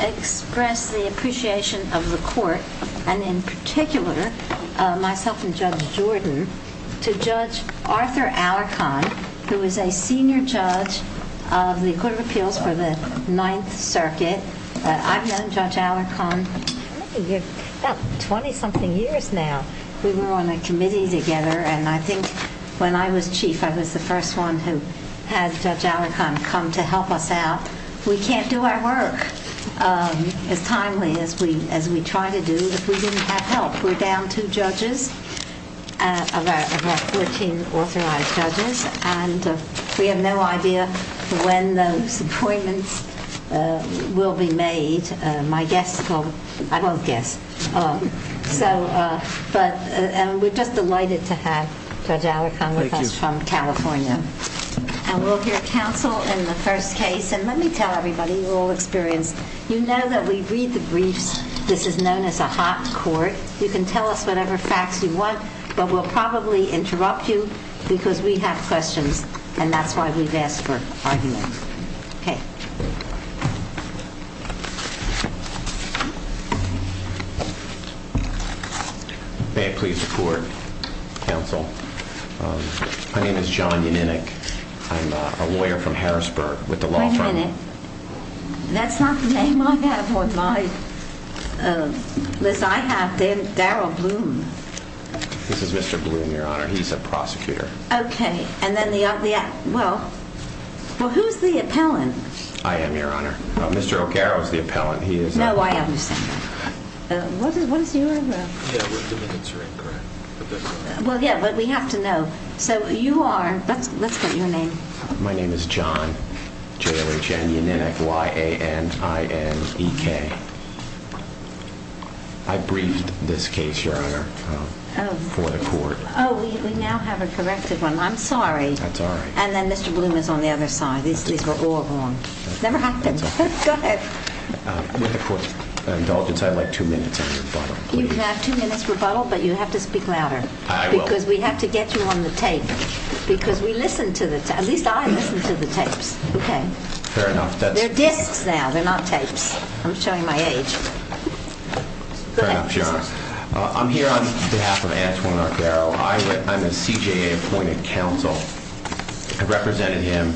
express the appreciation of the court, and in particular, myself and Judge Jordan, to Judge Arthur Alarcon, who is a senior judge of the Court of Appeals for the Ninth Circuit. I've known Judge Alarcon for about 20-something years now. We were on a committee together, and I think when I was chief, I was the first one who had Judge Alarcon come to help us out. We can't do our work as timely as we try to do if we didn't have help. We're down two judges, of our 14 authorized judges, and we have no idea when those appointments will be made. My guess, I won't guess, but we're just delighted to have Judge Alarcon with us from California. And we'll hear counsel in the first case, and let me tell everybody, you're all experienced, you know that we read the briefs. This is known as a hot court. You can tell us whatever facts you want, but we'll probably interrupt you because we have questions, and that's why we've asked for argument. Okay. May I please report, counsel? My name is John Yanninick. I'm a lawyer from Harrisburg with the law firm. One minute. That's not the name I have on my list. I have Daryl Bloom. This is Mr. Bloom, Your Honor. He's a prosecutor. Okay. And then the other, well, who's the appellant? I am, Your Honor. Mr. O'Carroll is the appellant. No, I understand. What is your address? Yeah, the minutes are incorrect. Well, yeah, but we have to know. So you are, let's get your name. My name is John Yanninick. I briefed this case, Your Honor. I'm here on behalf of Antoine O'Carroll. I'm a CJA appointed counsel. I represent him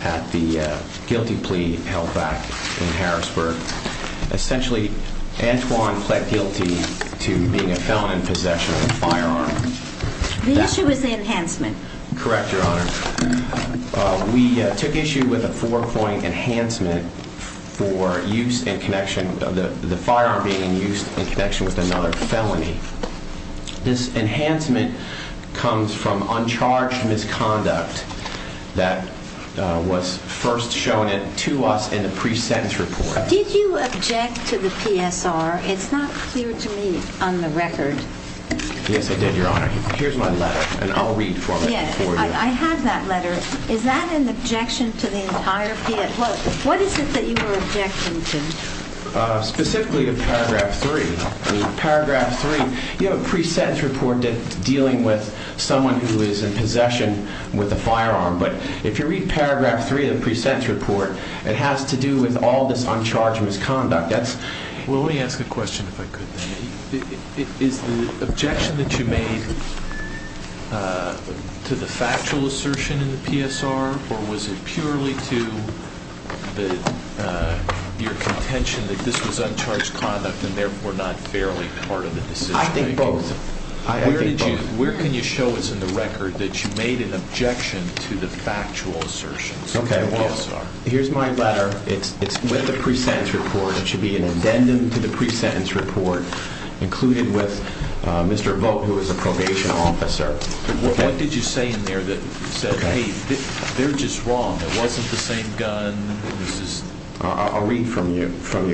at the guilty plea held back in Harrisburg. Essentially, Antoine pled guilty to being a felon in possession of a firearm. The issue is the enhancement. Correct, Your Honor. We took issue with a four-point enhancement for use in connection, the firearm being in use in connection with another felony. This enhancement comes from uncharged misconduct that was first shown to us in the pre-sentence report. Did you object to the PSR? It's not clear to me on the record. Yes, I did, Your Honor. Here's my letter, and I'll read for you. I have that letter. Is that an objection to the entire PSR? What is it that you were objecting to? Specifically to Paragraph 3. Paragraph 3, you have a pre-sentence report dealing with someone who is in possession with a firearm. But if you read Paragraph 3 of the pre-sentence report, it has to do with all this uncharged misconduct. Let me ask a question, if I could. Is the objection that you made to the factual assertion in the PSR, or was it purely to your contention that this was uncharged conduct and therefore not fairly part of the decision? I think both. I think both. Where can you show us in the record that you made an objection to the factual assertion in the PSR? Here's my letter. It's with the pre-sentence report. It should be an addendum to the pre-sentence report, included with Mr. Vogt, who is a probation officer. What did you say in there that said, hey, they're just wrong. It wasn't the same gun. I'll read from you.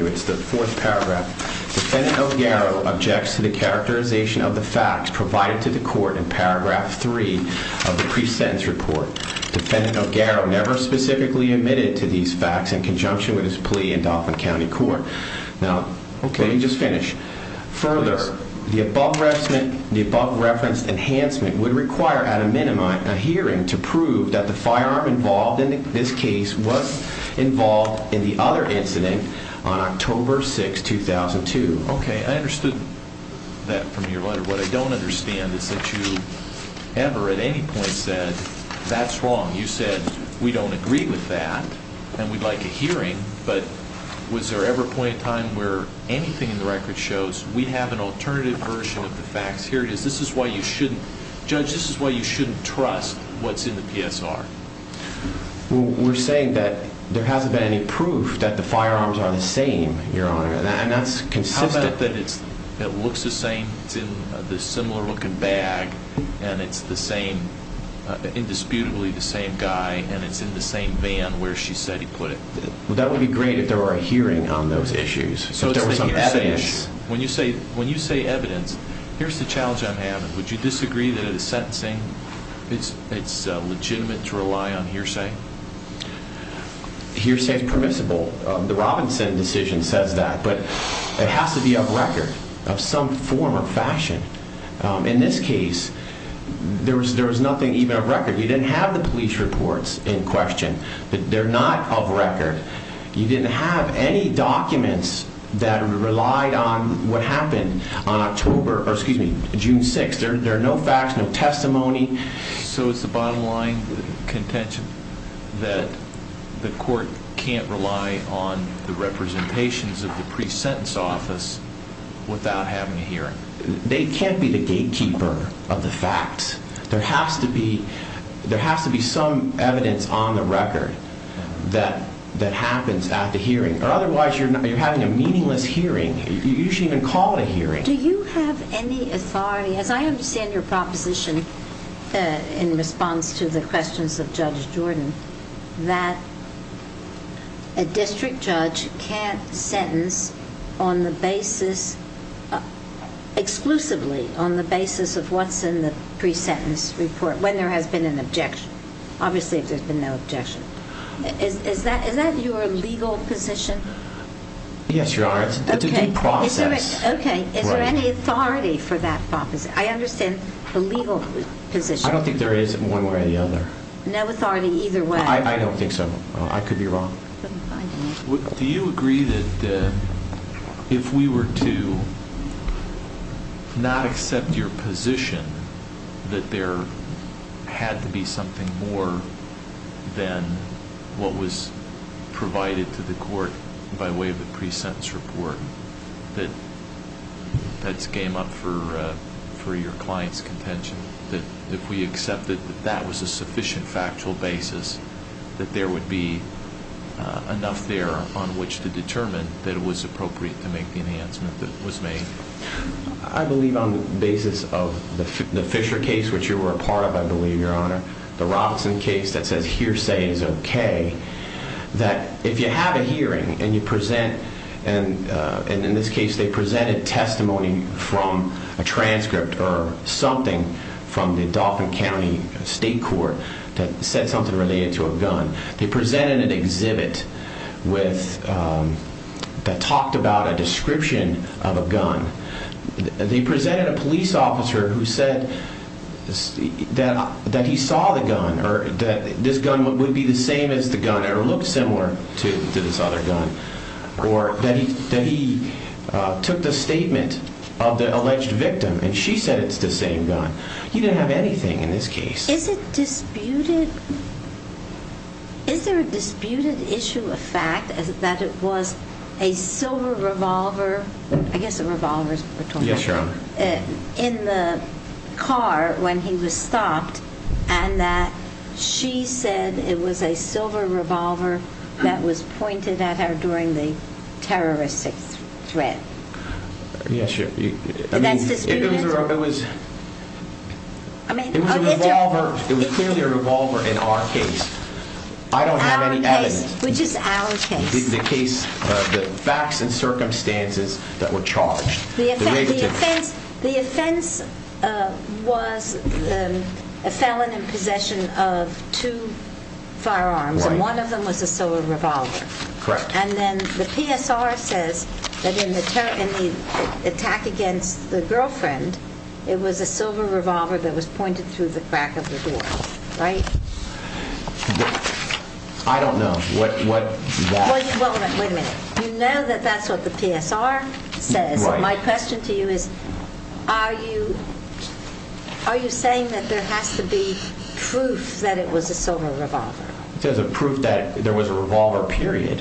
It's the fourth paragraph. Defendant O'Garrow objects to the characterization of the facts provided to the court in Paragraph 3 of the pre-sentence report. Defendant O'Garrow never specifically admitted to these facts in conjunction with his plea in Dauphin County Court. Now, let me just finish. Further, the above referenced enhancement would require at a minimum a hearing to prove that the firearm involved in this case was involved in the other incident on October 6, 2002. Okay. I understood that from your letter. What I don't understand is that you ever at any point said, that's wrong. You said, we don't agree with that and we'd like a hearing, but was there ever a point in time where anything in the record shows we have an alternative version of the facts? Here it is. This is why you shouldn't, Judge, this is why you shouldn't trust what's in the PSR. We're saying that there hasn't been any proof that the firearms are the same, Your Honor, and that's consistent. How about that it looks the same, it's in this similar looking bag and it's the same, indisputably the same guy and it's in the same van where she said he put it. That would be great if there were a hearing on those issues, if there was some evidence. When you say evidence, here's the It's legitimate to rely on hearsay? Hearsay is permissible. The Robinson decision says that, but it has to be up record of some form or fashion. In this case, there was nothing even up record. You didn't have the police reports in question. They're not up record. You didn't have any documents that relied on what happened on October, or excuse me, June 6th. There are no facts, no testimony. So it's the bottom line, the contention that the court can't rely on the representations of the pre-sentence office without having a hearing? They can't be the gatekeeper of the facts. There has to be some evidence on the record that happens at the hearing, or otherwise you're having a meaningless hearing. You shouldn't even call it a hearing. Do you have any authority, as I understand your proposition in response to the questions of Judge Jordan, that a district judge can't sentence on the basis, exclusively on the basis of what's in the pre-sentence report when there has been an objection, obviously if there's been no objection. Is that your legal position? Yes, Your Honor. It's a due process. Okay. Is there any authority for that proposition? I understand the legal position. I don't think there is one way or the other. No authority either way? I don't think so. I could be wrong. Do you agree that if we were to not accept your position that there had to be something more than what was provided to the court by way of the pre-sentence report, that that's game up for your client's contention? That if we accepted that that was a sufficient factual basis, that there would be enough there on which to determine that it was appropriate to make the enhancement that was made? I believe on the basis of the Fisher case, which you were a part of, I believe, Your Honor, the Robinson case that says hearsay is okay, that if you have a hearing and you present, and in this case they presented testimony from a transcript or something from the Dauphin County State Court that said something related to a gun. They presented an exhibit that talked about a description of a gun. They presented a police officer who said that he saw the gun or that this gun would be the same as the gun or look similar to this other gun or that he took the statement of the alleged victim and she said it's the same gun. He didn't have anything in this case. Is there a disputed issue of fact that it was a silver revolver in the car when he was stopped and that she said it was a silver revolver that was pointed at her during the terroristic threat? Yes, Your Honor. It was clearly a revolver in our case. I don't have any evidence. Which is our case? The case of the facts and circumstances that were charged. The offense was a felon in possession of two firearms and one of them was a silver revolver. Correct. And then the PSR says that in the attack against the girlfriend, it was a silver revolver that was pointed through the crack of the door. Right? I don't know what that... Well, wait a minute. You know that that's what the PSR says. Right. My question to you is, are you saying that there has to be proof that it was a silver revolver? There's a proof that there was a revolver period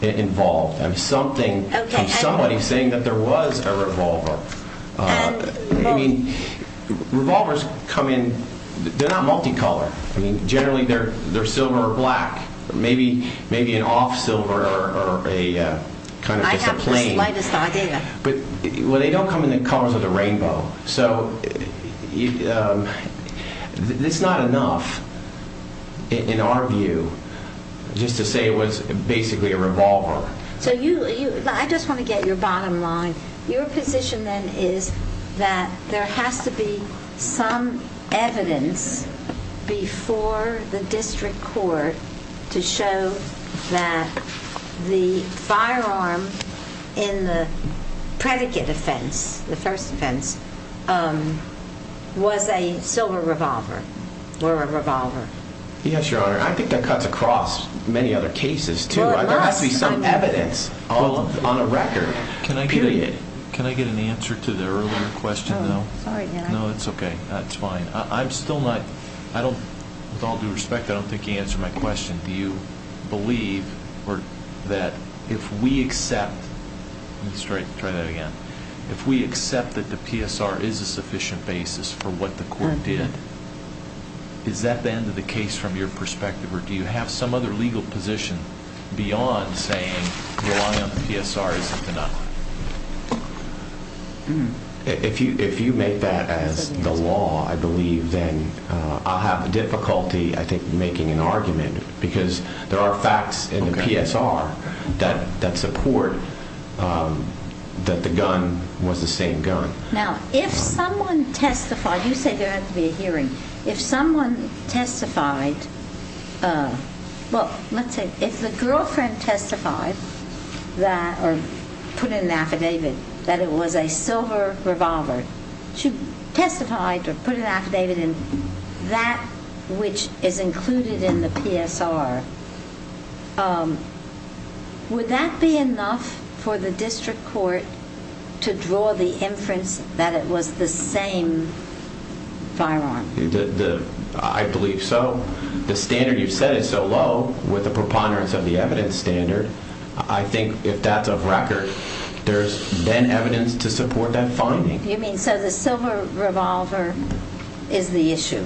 involved. I mean something, somebody saying that there was a revolver. I mean, revolvers come in, they're not multicolored. I mean, generally they're silver or black, maybe an off silver or a kind of just a plain. I have the slightest idea. Well, they don't come in the colors of the rainbow. So it's not enough in our view just to say it was basically a revolver. So you, I just want to get your bottom line. Your position then is that there has to be some evidence before the district court to show that the firearm in the predicate offense, the first offense, was a silver revolver or a revolver. Yes, Your Honor. I think that cuts across many other cases, too. There has to be some evidence on a record, period. Can I get an answer to the earlier question, though? Oh, sorry. No, it's okay. It's fine. I'm still not, I don't, with all due respect, I don't think you answered my question. Do you believe that if we accept, let's try that again, if we accept that the PSR is a sufficient basis for what the court did, is that the end of the case from your perspective or do you have some other legal position beyond saying relying on the PSR isn't enough? If you make that as the law, I believe then I'll have difficulty, I think, making an argument because there are facts in the PSR that support that the gun was the same gun. Now, if someone testified, you say there had to be a hearing. If someone testified, well, let's say if the girlfriend testified that or put in an affidavit that it was a silver revolver, she testified or put an affidavit in that which is included in the PSR, would that be enough for the district court to draw the inference that it was the same firearm? I believe so. The standard you said is so low with the preponderance of the evidence standard, I think if that's of record, there's then evidence to support that finding. You mean so the silver revolver is the issue?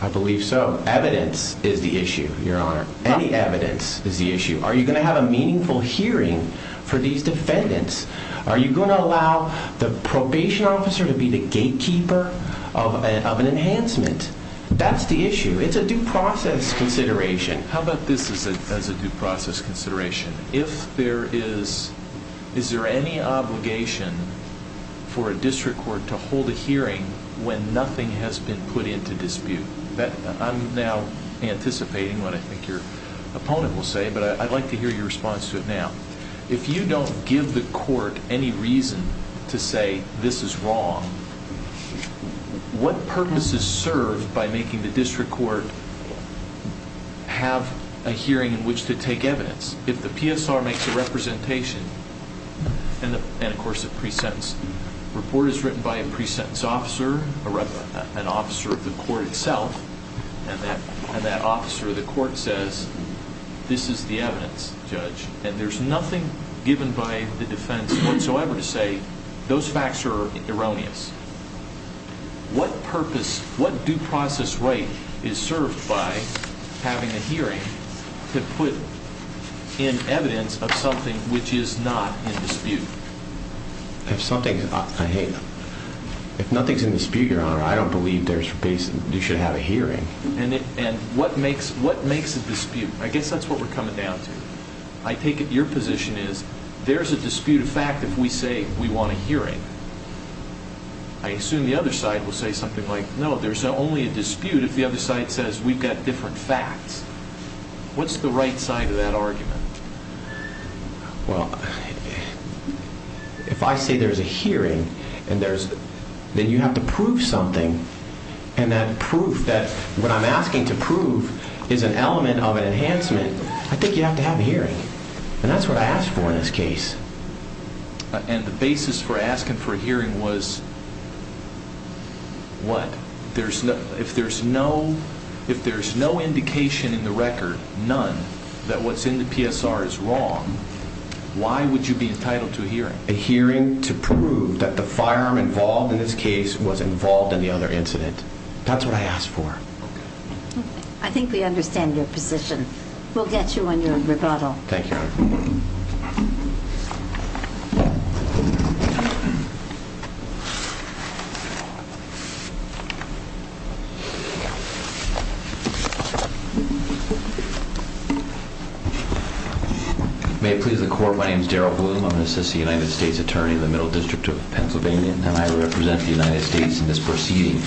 I believe so. Evidence is the issue, Your Honor. Any evidence is the issue. Are you going to have a meaningful hearing for these defendants? Are you going to allow the probation officer to be the gatekeeper of an enhancement? That's the issue. It's a due process consideration. How about this as a due process consideration? Is there any obligation for a district court to hold a hearing when nothing has been put into dispute? I'm now anticipating what I think your opponent will say, but I'd like to hear your response to it now. If you don't give the court any reason to say this is wrong, what purpose is served by making the district court have a hearing in which to take evidence? If the PSR makes a representation, and of course a pre-sentence report is written by a pre-sentence officer, an officer of the court itself, and that officer of the court says this is the evidence, Judge, and there's nothing given by the defense whatsoever to say those facts are erroneous, what purpose, Justice Wright, is served by having a hearing to put in evidence of something which is not in dispute? If nothing's in dispute, Your Honor, I don't believe you should have a hearing. And what makes a dispute? I guess that's what we're coming down to. I take it your position is there's a dispute of fact if we say we want a hearing. I assume the other side will say something like, no, there's only a dispute if the other side says we've got different facts. What's the right side of that argument? Well, if I say there's a hearing, then you have to prove something. And that proof, that what I'm asking to prove is an element of an enhancement, I think you have to have a hearing. And that's what I asked for in this What? If there's no indication in the record, none, that what's in the PSR is wrong, why would you be entitled to a hearing? A hearing to prove that the firearm involved in this case was involved in the other incident. That's what I asked for. I think we understand your May it please the court. My name is Darryl Bloom. I'm an assistant United States attorney in the Middle District of Pennsylvania, and I represent the United States in this proceeding.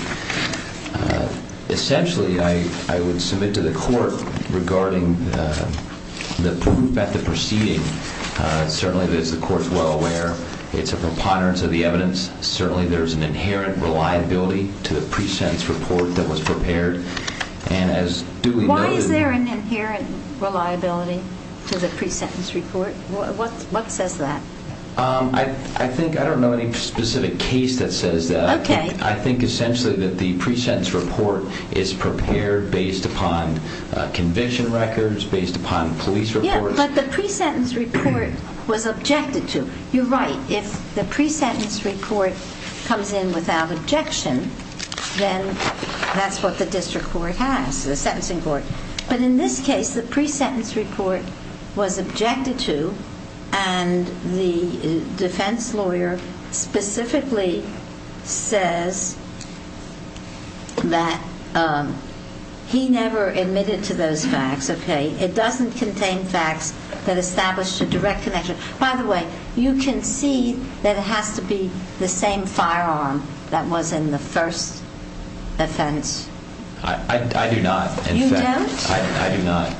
Essentially, I would submit to the court regarding the proof at the proceeding. Certainly, the inherent reliability to the pre-sentence report that was prepared. Why is there an inherent reliability to the pre-sentence report? What says that? I don't know any specific case that says that. I think essentially that the pre-sentence report is prepared based upon conviction records, based upon police reports. But the pre-sentence report was objected to. You're right. If the pre-sentence report comes in without objection, then that's what the district court has, the sentencing court. But in this case, the pre-sentence report was objected to, and the defense lawyer specifically says that he never admitted to those facts. Okay. It doesn't contain facts that establish a direct connection. By the way, you concede that it has to be the same firearm that was in the first offense. I do not. You don't? I do not.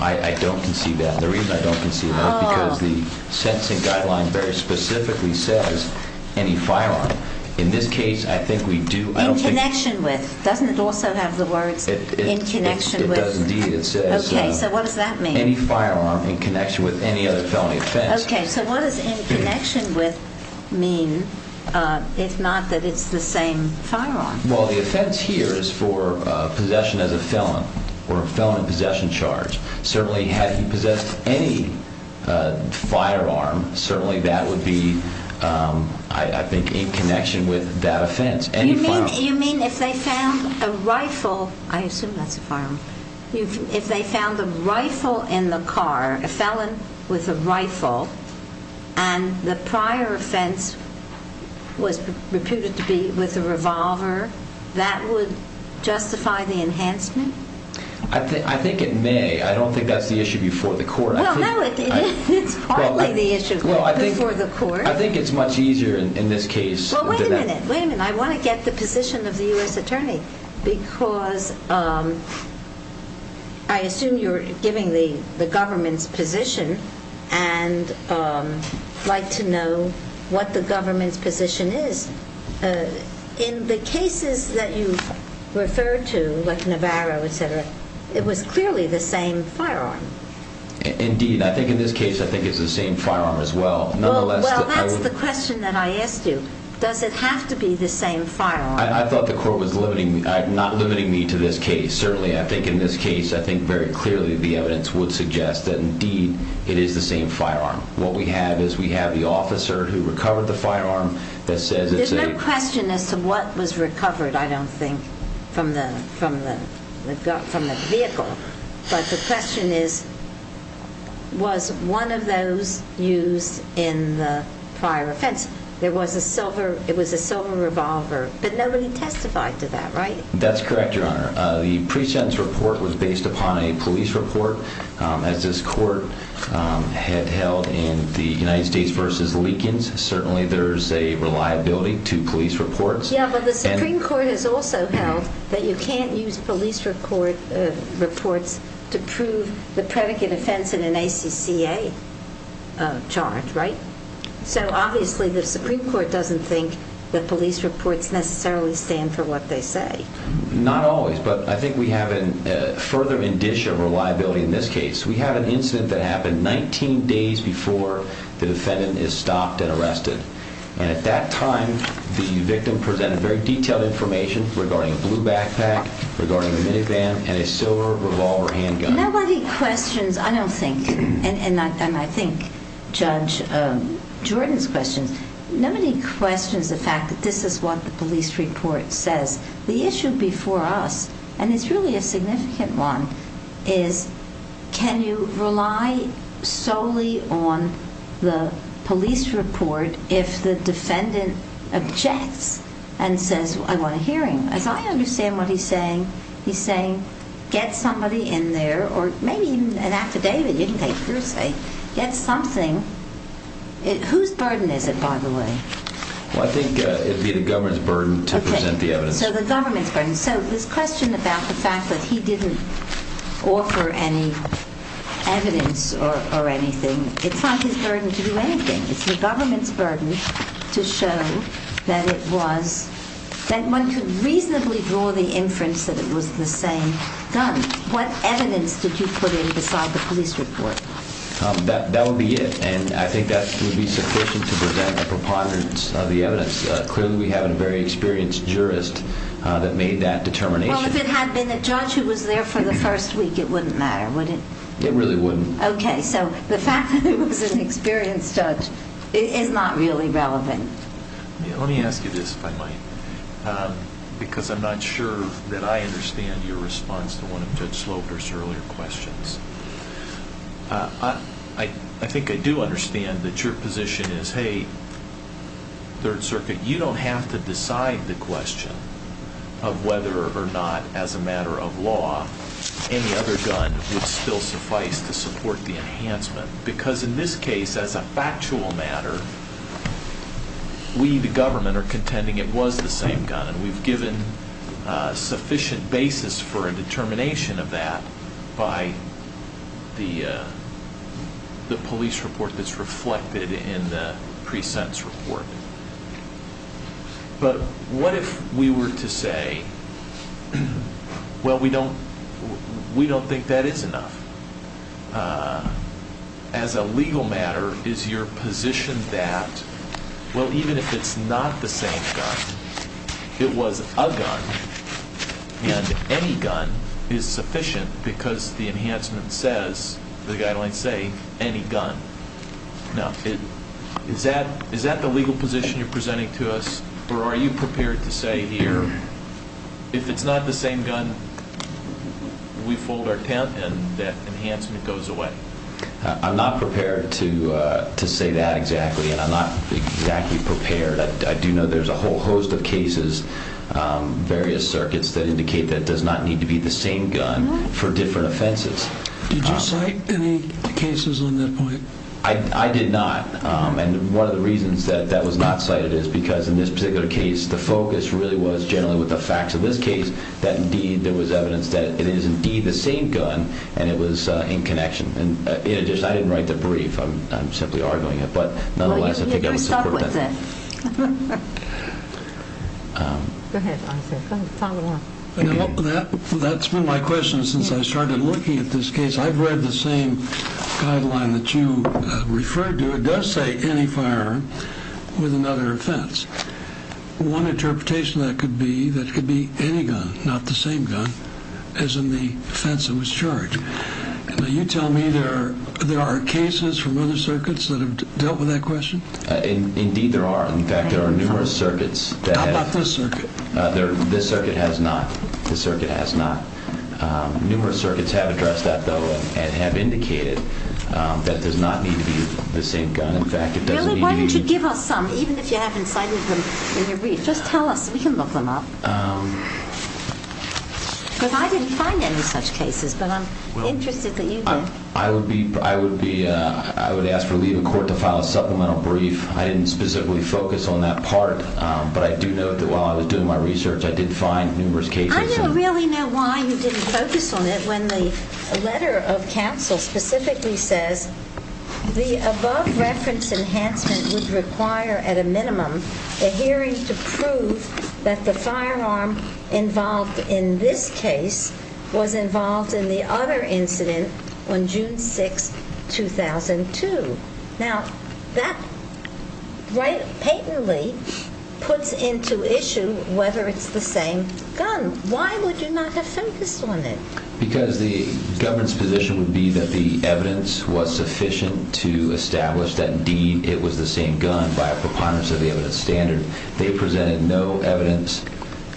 I don't concede that. The reason I don't concede that is because the sentencing guideline very specifically says any firearm. In this case, I think we do. In connection with. Doesn't it also have the words in connection with? It does indeed. It says. Okay. So what does that mean? Any firearm in connection with any other felony offense. Okay. So what does in connection with mean if not that it's the same firearm? Well, the offense here is for possession as a felon or a felon in possession charge. Certainly had he possessed any firearm, certainly that would be, I think, in connection with that offense. You mean if they found a rifle. I assume that's a firearm. If they found a rifle in the car, a felon with a rifle, and the prior offense was reputed to be with a revolver, that would justify the enhancement? I think it may. I don't think that's the issue before the court. Well, no, it's partly the issue before the court. I think it's much easier in this case. Well, wait a minute. Wait a minute. I want to get the position of the U.S. Attorney because I assume you're giving the government's position and like to know what the government's position is. In the cases that you referred to, like Navarro, etc., it was clearly the same firearm. Indeed. I think in this case, I think it's the same firearm as well. Well, that's the question that I asked you. Does it have to be the same firearm? I thought the court was not limiting me to this case. Certainly, I think in this case, I think very clearly the evidence would suggest that indeed it is the same firearm. What we have is we have the officer who recovered the firearm that says it's a There's no question as to what was recovered, I don't think, from the vehicle. But the question is, was one of those used in the prior offense? It was a silver revolver, but nobody testified to that, right? That's correct, Your Honor. The pre-sentence report was based upon a police report. As this court had held in the United States v. Leakins, certainly there's a reliability to police reports. Yeah, but the Supreme Court has also held that you can't use police reports to prove the predicate offense in an ACCA charge, right? So obviously the Supreme Court doesn't think that police reports necessarily stand for what they say. Not always, but I think we have a further indicia of reliability in this case. We have an incident that happened 19 days before the defendant is stopped and arrested. And at that time, the victim presented very detailed information regarding a blue backpack, regarding a minivan, and a silver revolver handgun. Nobody questions, I don't think, and I think Judge Jordan's question, nobody questions the fact that this is what the police report says. The issue before us, and it's really a significant one, is can you rely solely on the police report if the defendant objects and says, I want a hearing? As I understand what he's saying, he's saying get somebody in there, or maybe even an affidavit you can take, per se. Get something. Whose burden is it, by the way? Well, I think it would be the government's burden to present the evidence. So the government's burden. So this question about the fact that he didn't offer any evidence or anything, it's not his burden to do anything. It's the government's burden to show that it was, that one could reasonably draw the inference that it was the same gun. What evidence did you put in beside the police report? That would be it, and I think that would be sufficient to present a preponderance of the evidence. Clearly, we have a very experienced jurist that made that determination. Well, if it had been a judge who was there for the first week, it wouldn't matter, would it? It really wouldn't. Okay, so the fact that it was an experienced judge is not really relevant. Let me ask you this, if I might, because I'm not sure that I understand your response to one of Judge Slobner's earlier questions. I think I do understand that your position is, hey, Third Circuit, you don't have to decide the question of whether or not, as a matter of law, any other gun would still suffice to support the enhancement, because in this case, as a factual matter, we, the government, are contending it was the same gun, and we've given sufficient basis for a determination of that by the police report that's reflected in the pre-sentence report. But what if we were to say, well, we don't think that is enough. As a legal matter, is your position that well, even if it's not the same gun, it was a gun, and any gun is sufficient because the enhancement says, the guidelines say, any gun. Now, is that the legal position you're presenting to us, or are you prepared to say here, if it's not the same gun, we fold our tent and that enhancement goes away? I'm not prepared to say that exactly, and I'm not exactly prepared. I do know there's a whole host of cases, various circuits, that indicate that it does not need to be the same gun for different offenses. Did you cite any cases on that point? I did not, and one of the reasons that that was not cited is because in this particular case, the focus really was generally with the facts of this case, that indeed there was evidence that it is indeed the same gun, and it was in connection. In addition, I didn't write the brief, I'm simply arguing it, but nonetheless, I think I would support that. Go ahead, follow along. That's been my question since I started looking at this case. I've read the same guideline that you referred to. It does say any firearm with another offense. One interpretation of that could be that it could be any gun, not the same gun as in the offense that was charged. Now, you tell me there are cases from other circuits that have dealt with that question? Indeed there are. In fact, there are numerous circuits that have. How about this circuit? This circuit has not. Numerous circuits have addressed that though, and have indicated that does not need to be the same gun. Why don't you give us some, even if you haven't cited them in your brief? We can look them up. I didn't find any such cases, but I'm interested that you did. I would ask for leave of court to file a supplemental brief. I didn't specifically focus on that part, but I do note that while I was doing my research, I did find numerous cases. I don't really know why you didn't focus on it when the letter of counsel specifically says the above reference enhancement would require at a minimum a hearing to prove that the firearm involved in this case was involved in the other incident on June 6, 2002. Now, that patently puts into issue whether it's the same gun. Why would you not have focused on it? Because the government's position would be that the evidence was sufficient to establish that indeed it was the same gun by a preponderance of the evidence standard. They presented no evidence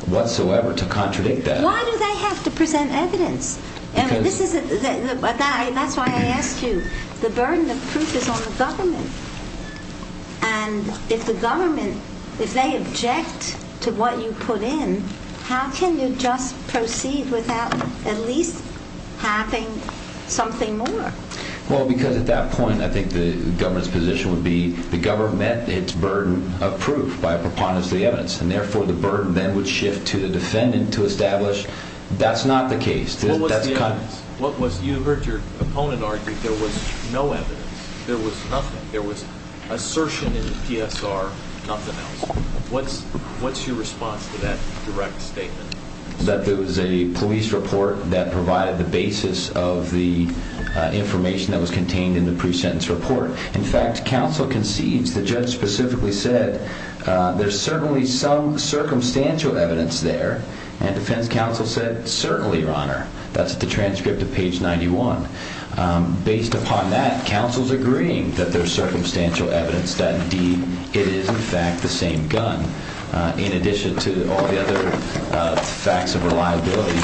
whatsoever to contradict that. Why do they have to present evidence? That's why I asked you. The burden of proof is on the government. If the government, if they object to what you put in, how can you just proceed without at least having something more? Well, because at that point, I think the government's position would be the government met its burden of proof by a preponderance of the evidence, and therefore the burden then would shift to the defendant to establish that's not the case. You heard your opponent argue there was no evidence. There was nothing. There was assertion in the PSR, nothing else. What's your response to that direct statement? That there was a police report that provided the basis of the information that was contained in the pre-sentence report. In fact, counsel concedes, the judge specifically said, there's certainly some circumstantial evidence there, and defense counsel said, certainly, your honor. That's the transcript of page 91. Based upon that, counsel's agreeing that there's circumstantial evidence that, indeed, it is, in fact, the same gun, in addition to all the other facts of reliability,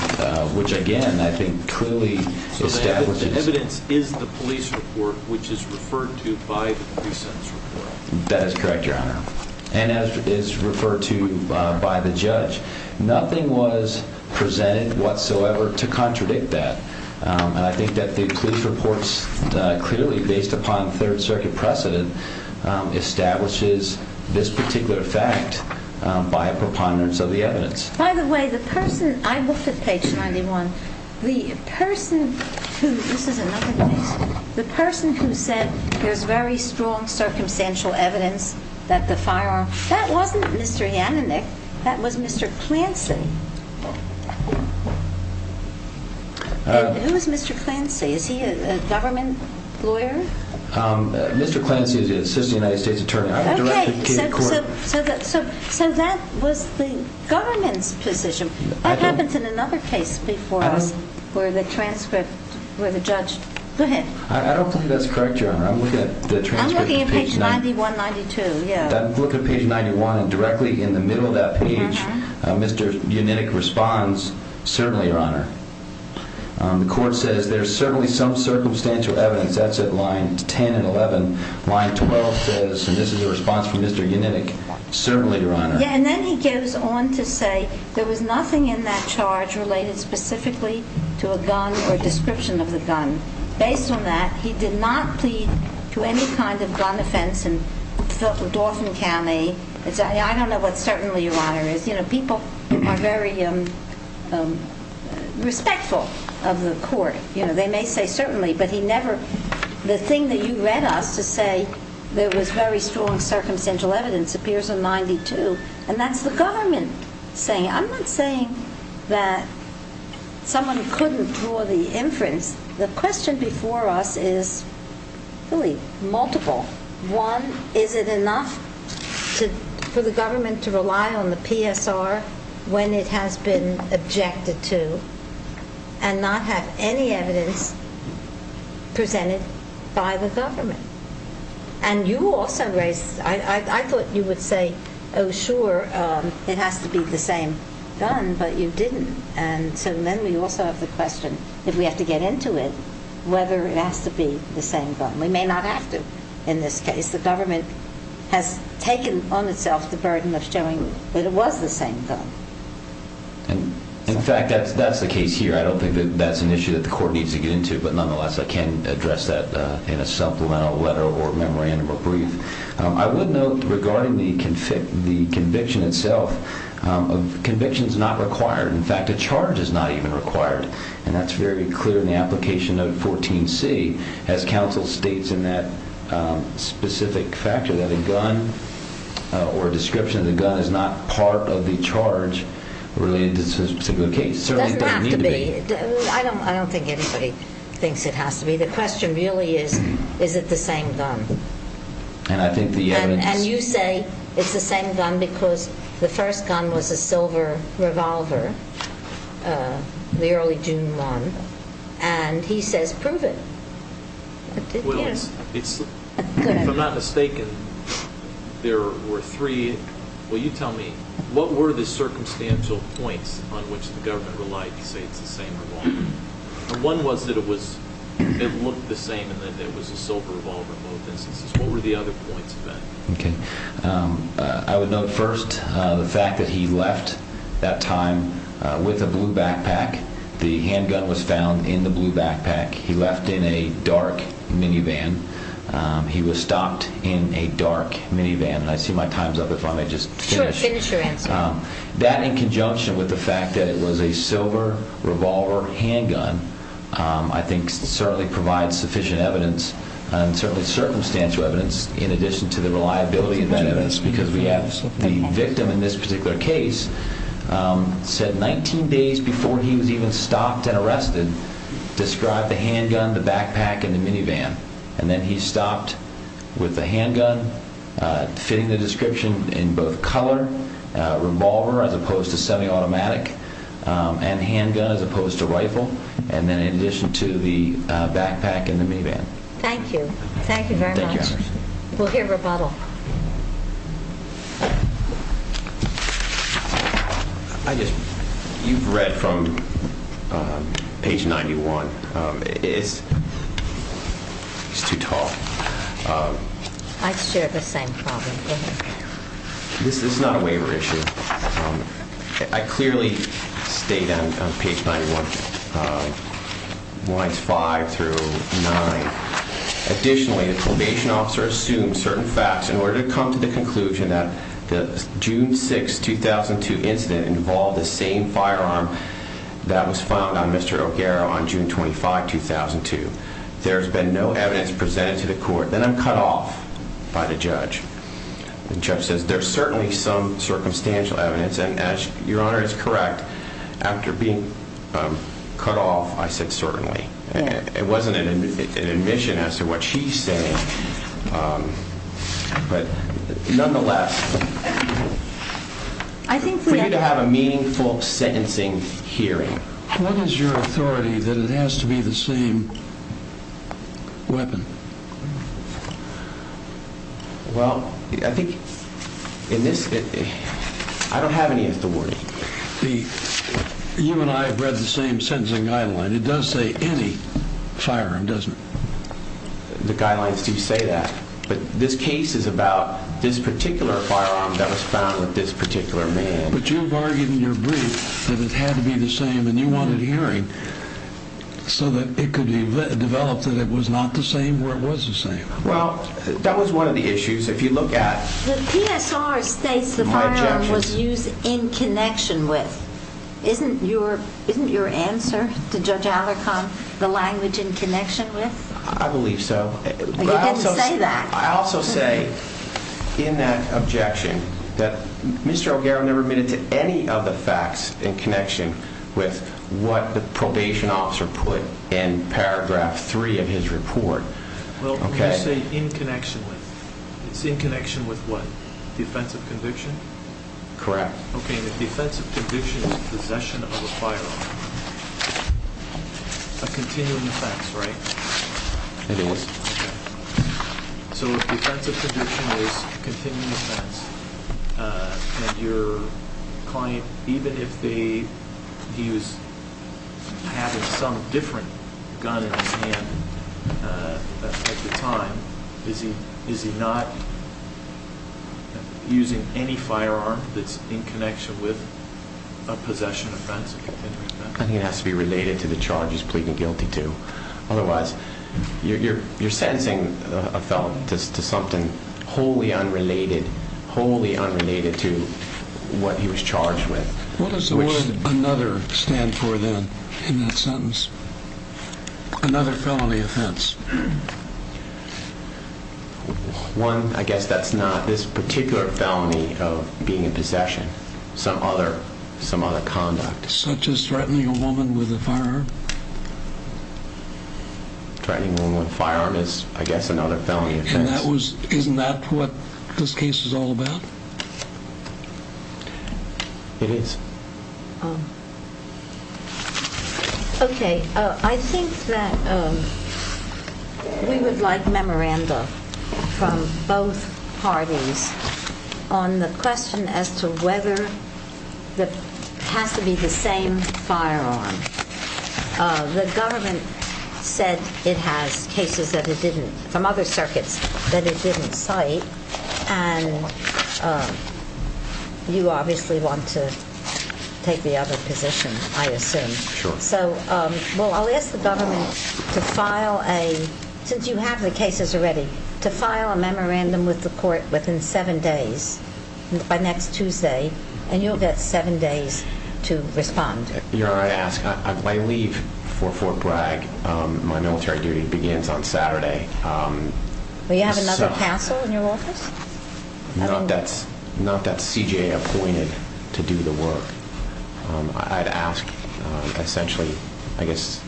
which, again, I think clearly establishes The evidence is the police report, which is referred to by the pre-sentence report. That is correct, your honor. And as is referred to by the judge, nothing was presented whatsoever to contradict that. And I think that the police report clearly, based upon third circuit precedent, establishes this particular fact by a preponderance of the evidence. By the way, the person, I looked at page 91, the person who, this is another case, the person who said there's very strong circumstantial evidence that the firearm, that wasn't Mr. Yannanick, that was Mr. Clancy. Who is Mr. Clancy? Is he a government lawyer? Mr. Clancy is the assistant United States attorney. Okay, so that was the government's position. That happens in another case before us, where the transcript, where the judge Go ahead. I don't think that's correct, your honor. I'm looking at the transcript. I'm looking at page 91, 92, yeah. I'm looking at page 91, and directly in the middle of that page, Mr. Yannanick responds, certainly, your honor. The court says there's certainly some circumstantial evidence. That's at line 10 and 11. Line 12 says, and this is the response from Mr. Yannanick, certainly, your honor. Yeah, and then he gives on to say there was nothing in that charge related specifically to a gun or description of the gun. Based on that, he did not plead to any kind of gun offense in Dauphin County. I don't know what certainly, your honor, is. You know, people are very respectful of the court. You know, they may say certainly, but he never, the thing that you read us to say there was very strong circumstantial evidence appears in 92, and that's the government saying. I'm not saying that someone couldn't draw the inference. The question before us is really multiple. One, is it enough for the government to rely on the PSR when it has been objected to and not have any evidence presented by the government? And you also raised, I thought you would say, oh sure, it has to be the same gun, but you didn't. And so then we also have the question, if we have to get into it, whether it has to be the same gun. We may not have to in this case. The government has taken on itself the burden of showing that it was the same gun. In fact, that's the case here. I don't think that's an issue that the court needs to get into, but nonetheless I can address that in a supplemental letter or memorandum or brief. I would note regarding the conviction itself, conviction is not required. In fact, a charge is not even required. And that's very clear in the application of 14C as counsel states in that specific factor that a gun or a description of the gun is not part of the charge related to this particular case. It doesn't have to be. I don't think anybody thinks it has to be. The question really is, is it the same gun? And you say it's the same gun because the first gun was a silver revolver, the early June one, and he says prove it. If I'm not mistaken, there were three. Will you tell me, what were the circumstantial points on which the government relied to say it's the same revolver? One was that it looked the same and that it was a silver revolver in both instances. What were the other points of that? I would note first the fact that he left that time with a blue backpack. The handgun was found in the blue backpack. He left in a dark minivan. He was stopped in a dark minivan. I see my time's up if I may just finish. Sure, finish your answer. That in conjunction with the fact that it was a silver revolver handgun I think certainly provides sufficient evidence and certainly circumstantial evidence in addition to the reliability of evidence because we have the victim in this particular case said 19 days before he was even stopped and arrested described the handgun, the backpack and the minivan. And then he stopped with the handgun fitting the description in both color, revolver as opposed to semi-automatic and handgun as opposed to rifle and then in addition to the backpack and the minivan. Thank you. Thank you very much. We'll hear rebuttal. You've read from page 91. It's too tall. I share the same problem. Go ahead. This is not a waiver issue. I clearly state on page 91 lines five through nine Additionally, the probation officer assumed certain facts in order to come to the conclusion that the June 6, 2002 incident involved the same firearm that was found on Mr. O'Gara on June 25, 2002. There's been no evidence presented to the court. Then I'm cut off by the judge. The judge says there's certainly some circumstantial evidence and as your honor is correct after being cut off I said certainly It wasn't an admission as to what she's saying but nonetheless for you to have a meaningful sentencing hearing What is your authority that it has to be the same weapon? Well, I think in this I don't have any authority You and I have read the same sentencing guideline. It does say any firearm, doesn't it? The guidelines do say that but this case is about this particular firearm that was found with this particular man. But you've argued in your brief that it had to be the same and you wanted hearing so that it could be developed that it was not the same where it was the same. Well, that was one of the issues. If you look at The PSR states the firearm was used in connection with. Isn't your answer to Judge Alarcon the language in connection with? I believe so You didn't say that. I also say in that objection that Mr. O'Gara never admitted to any of the facts in connection with what the probation officer put in paragraph 3 of his report Well, you say in connection with. It's in connection with what? Defensive conviction? Correct. Okay, and if defensive conviction is possession of a firearm a continuing offense, right? It is So if defensive conviction is a continuing offense and your client, even if they he was having some different gun in his hand at the time is he not using any firearm that's in connection with a possession offense? I think it has to be related to the charge he's pleading guilty to. Otherwise you're sentencing a felon to something wholly unrelated, wholly unrelated to what he was charged with. What does the word another stand for then in that Another felony offense One, I guess that's not this particular felony of being in possession. Some other conduct. Such as threatening a woman with a firearm? Threatening a woman with a firearm is, I guess, another felony offense. Isn't that what this case is all about? It is Okay, I think that we would like memoranda from both parties on the question as to whether it has to be the same firearm. The government said it has cases from other circuits that it didn't cite and you obviously want to take the other position, I assume. Sure. I'll ask the government to file a, since you have the cases already, to file a memorandum with the court within seven days by next Tuesday and you'll get seven days to respond Your Honor, I ask, I leave for Fort Bragg My military duty begins on Saturday Do you have another counsel in your office? Not that CJA appointed to do the work I'd ask, essentially, I guess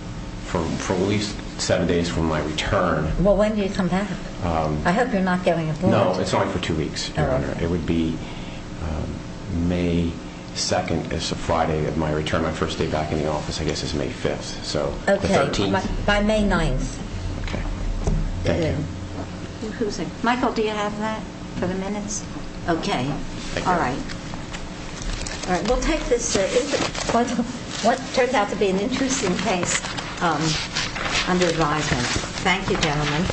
for at least seven days from my return I hope you're not getting a warrant. No, it's only for two weeks, Your Honor. It would be May 2nd, it's a Friday of my return My first day back in the office, I guess, is May 5th, so the 13th By May 9th Michael, do you have that for the minutes? Okay. Alright. We'll take this What turned out to be an interesting case under advisement Thank you, gentlemen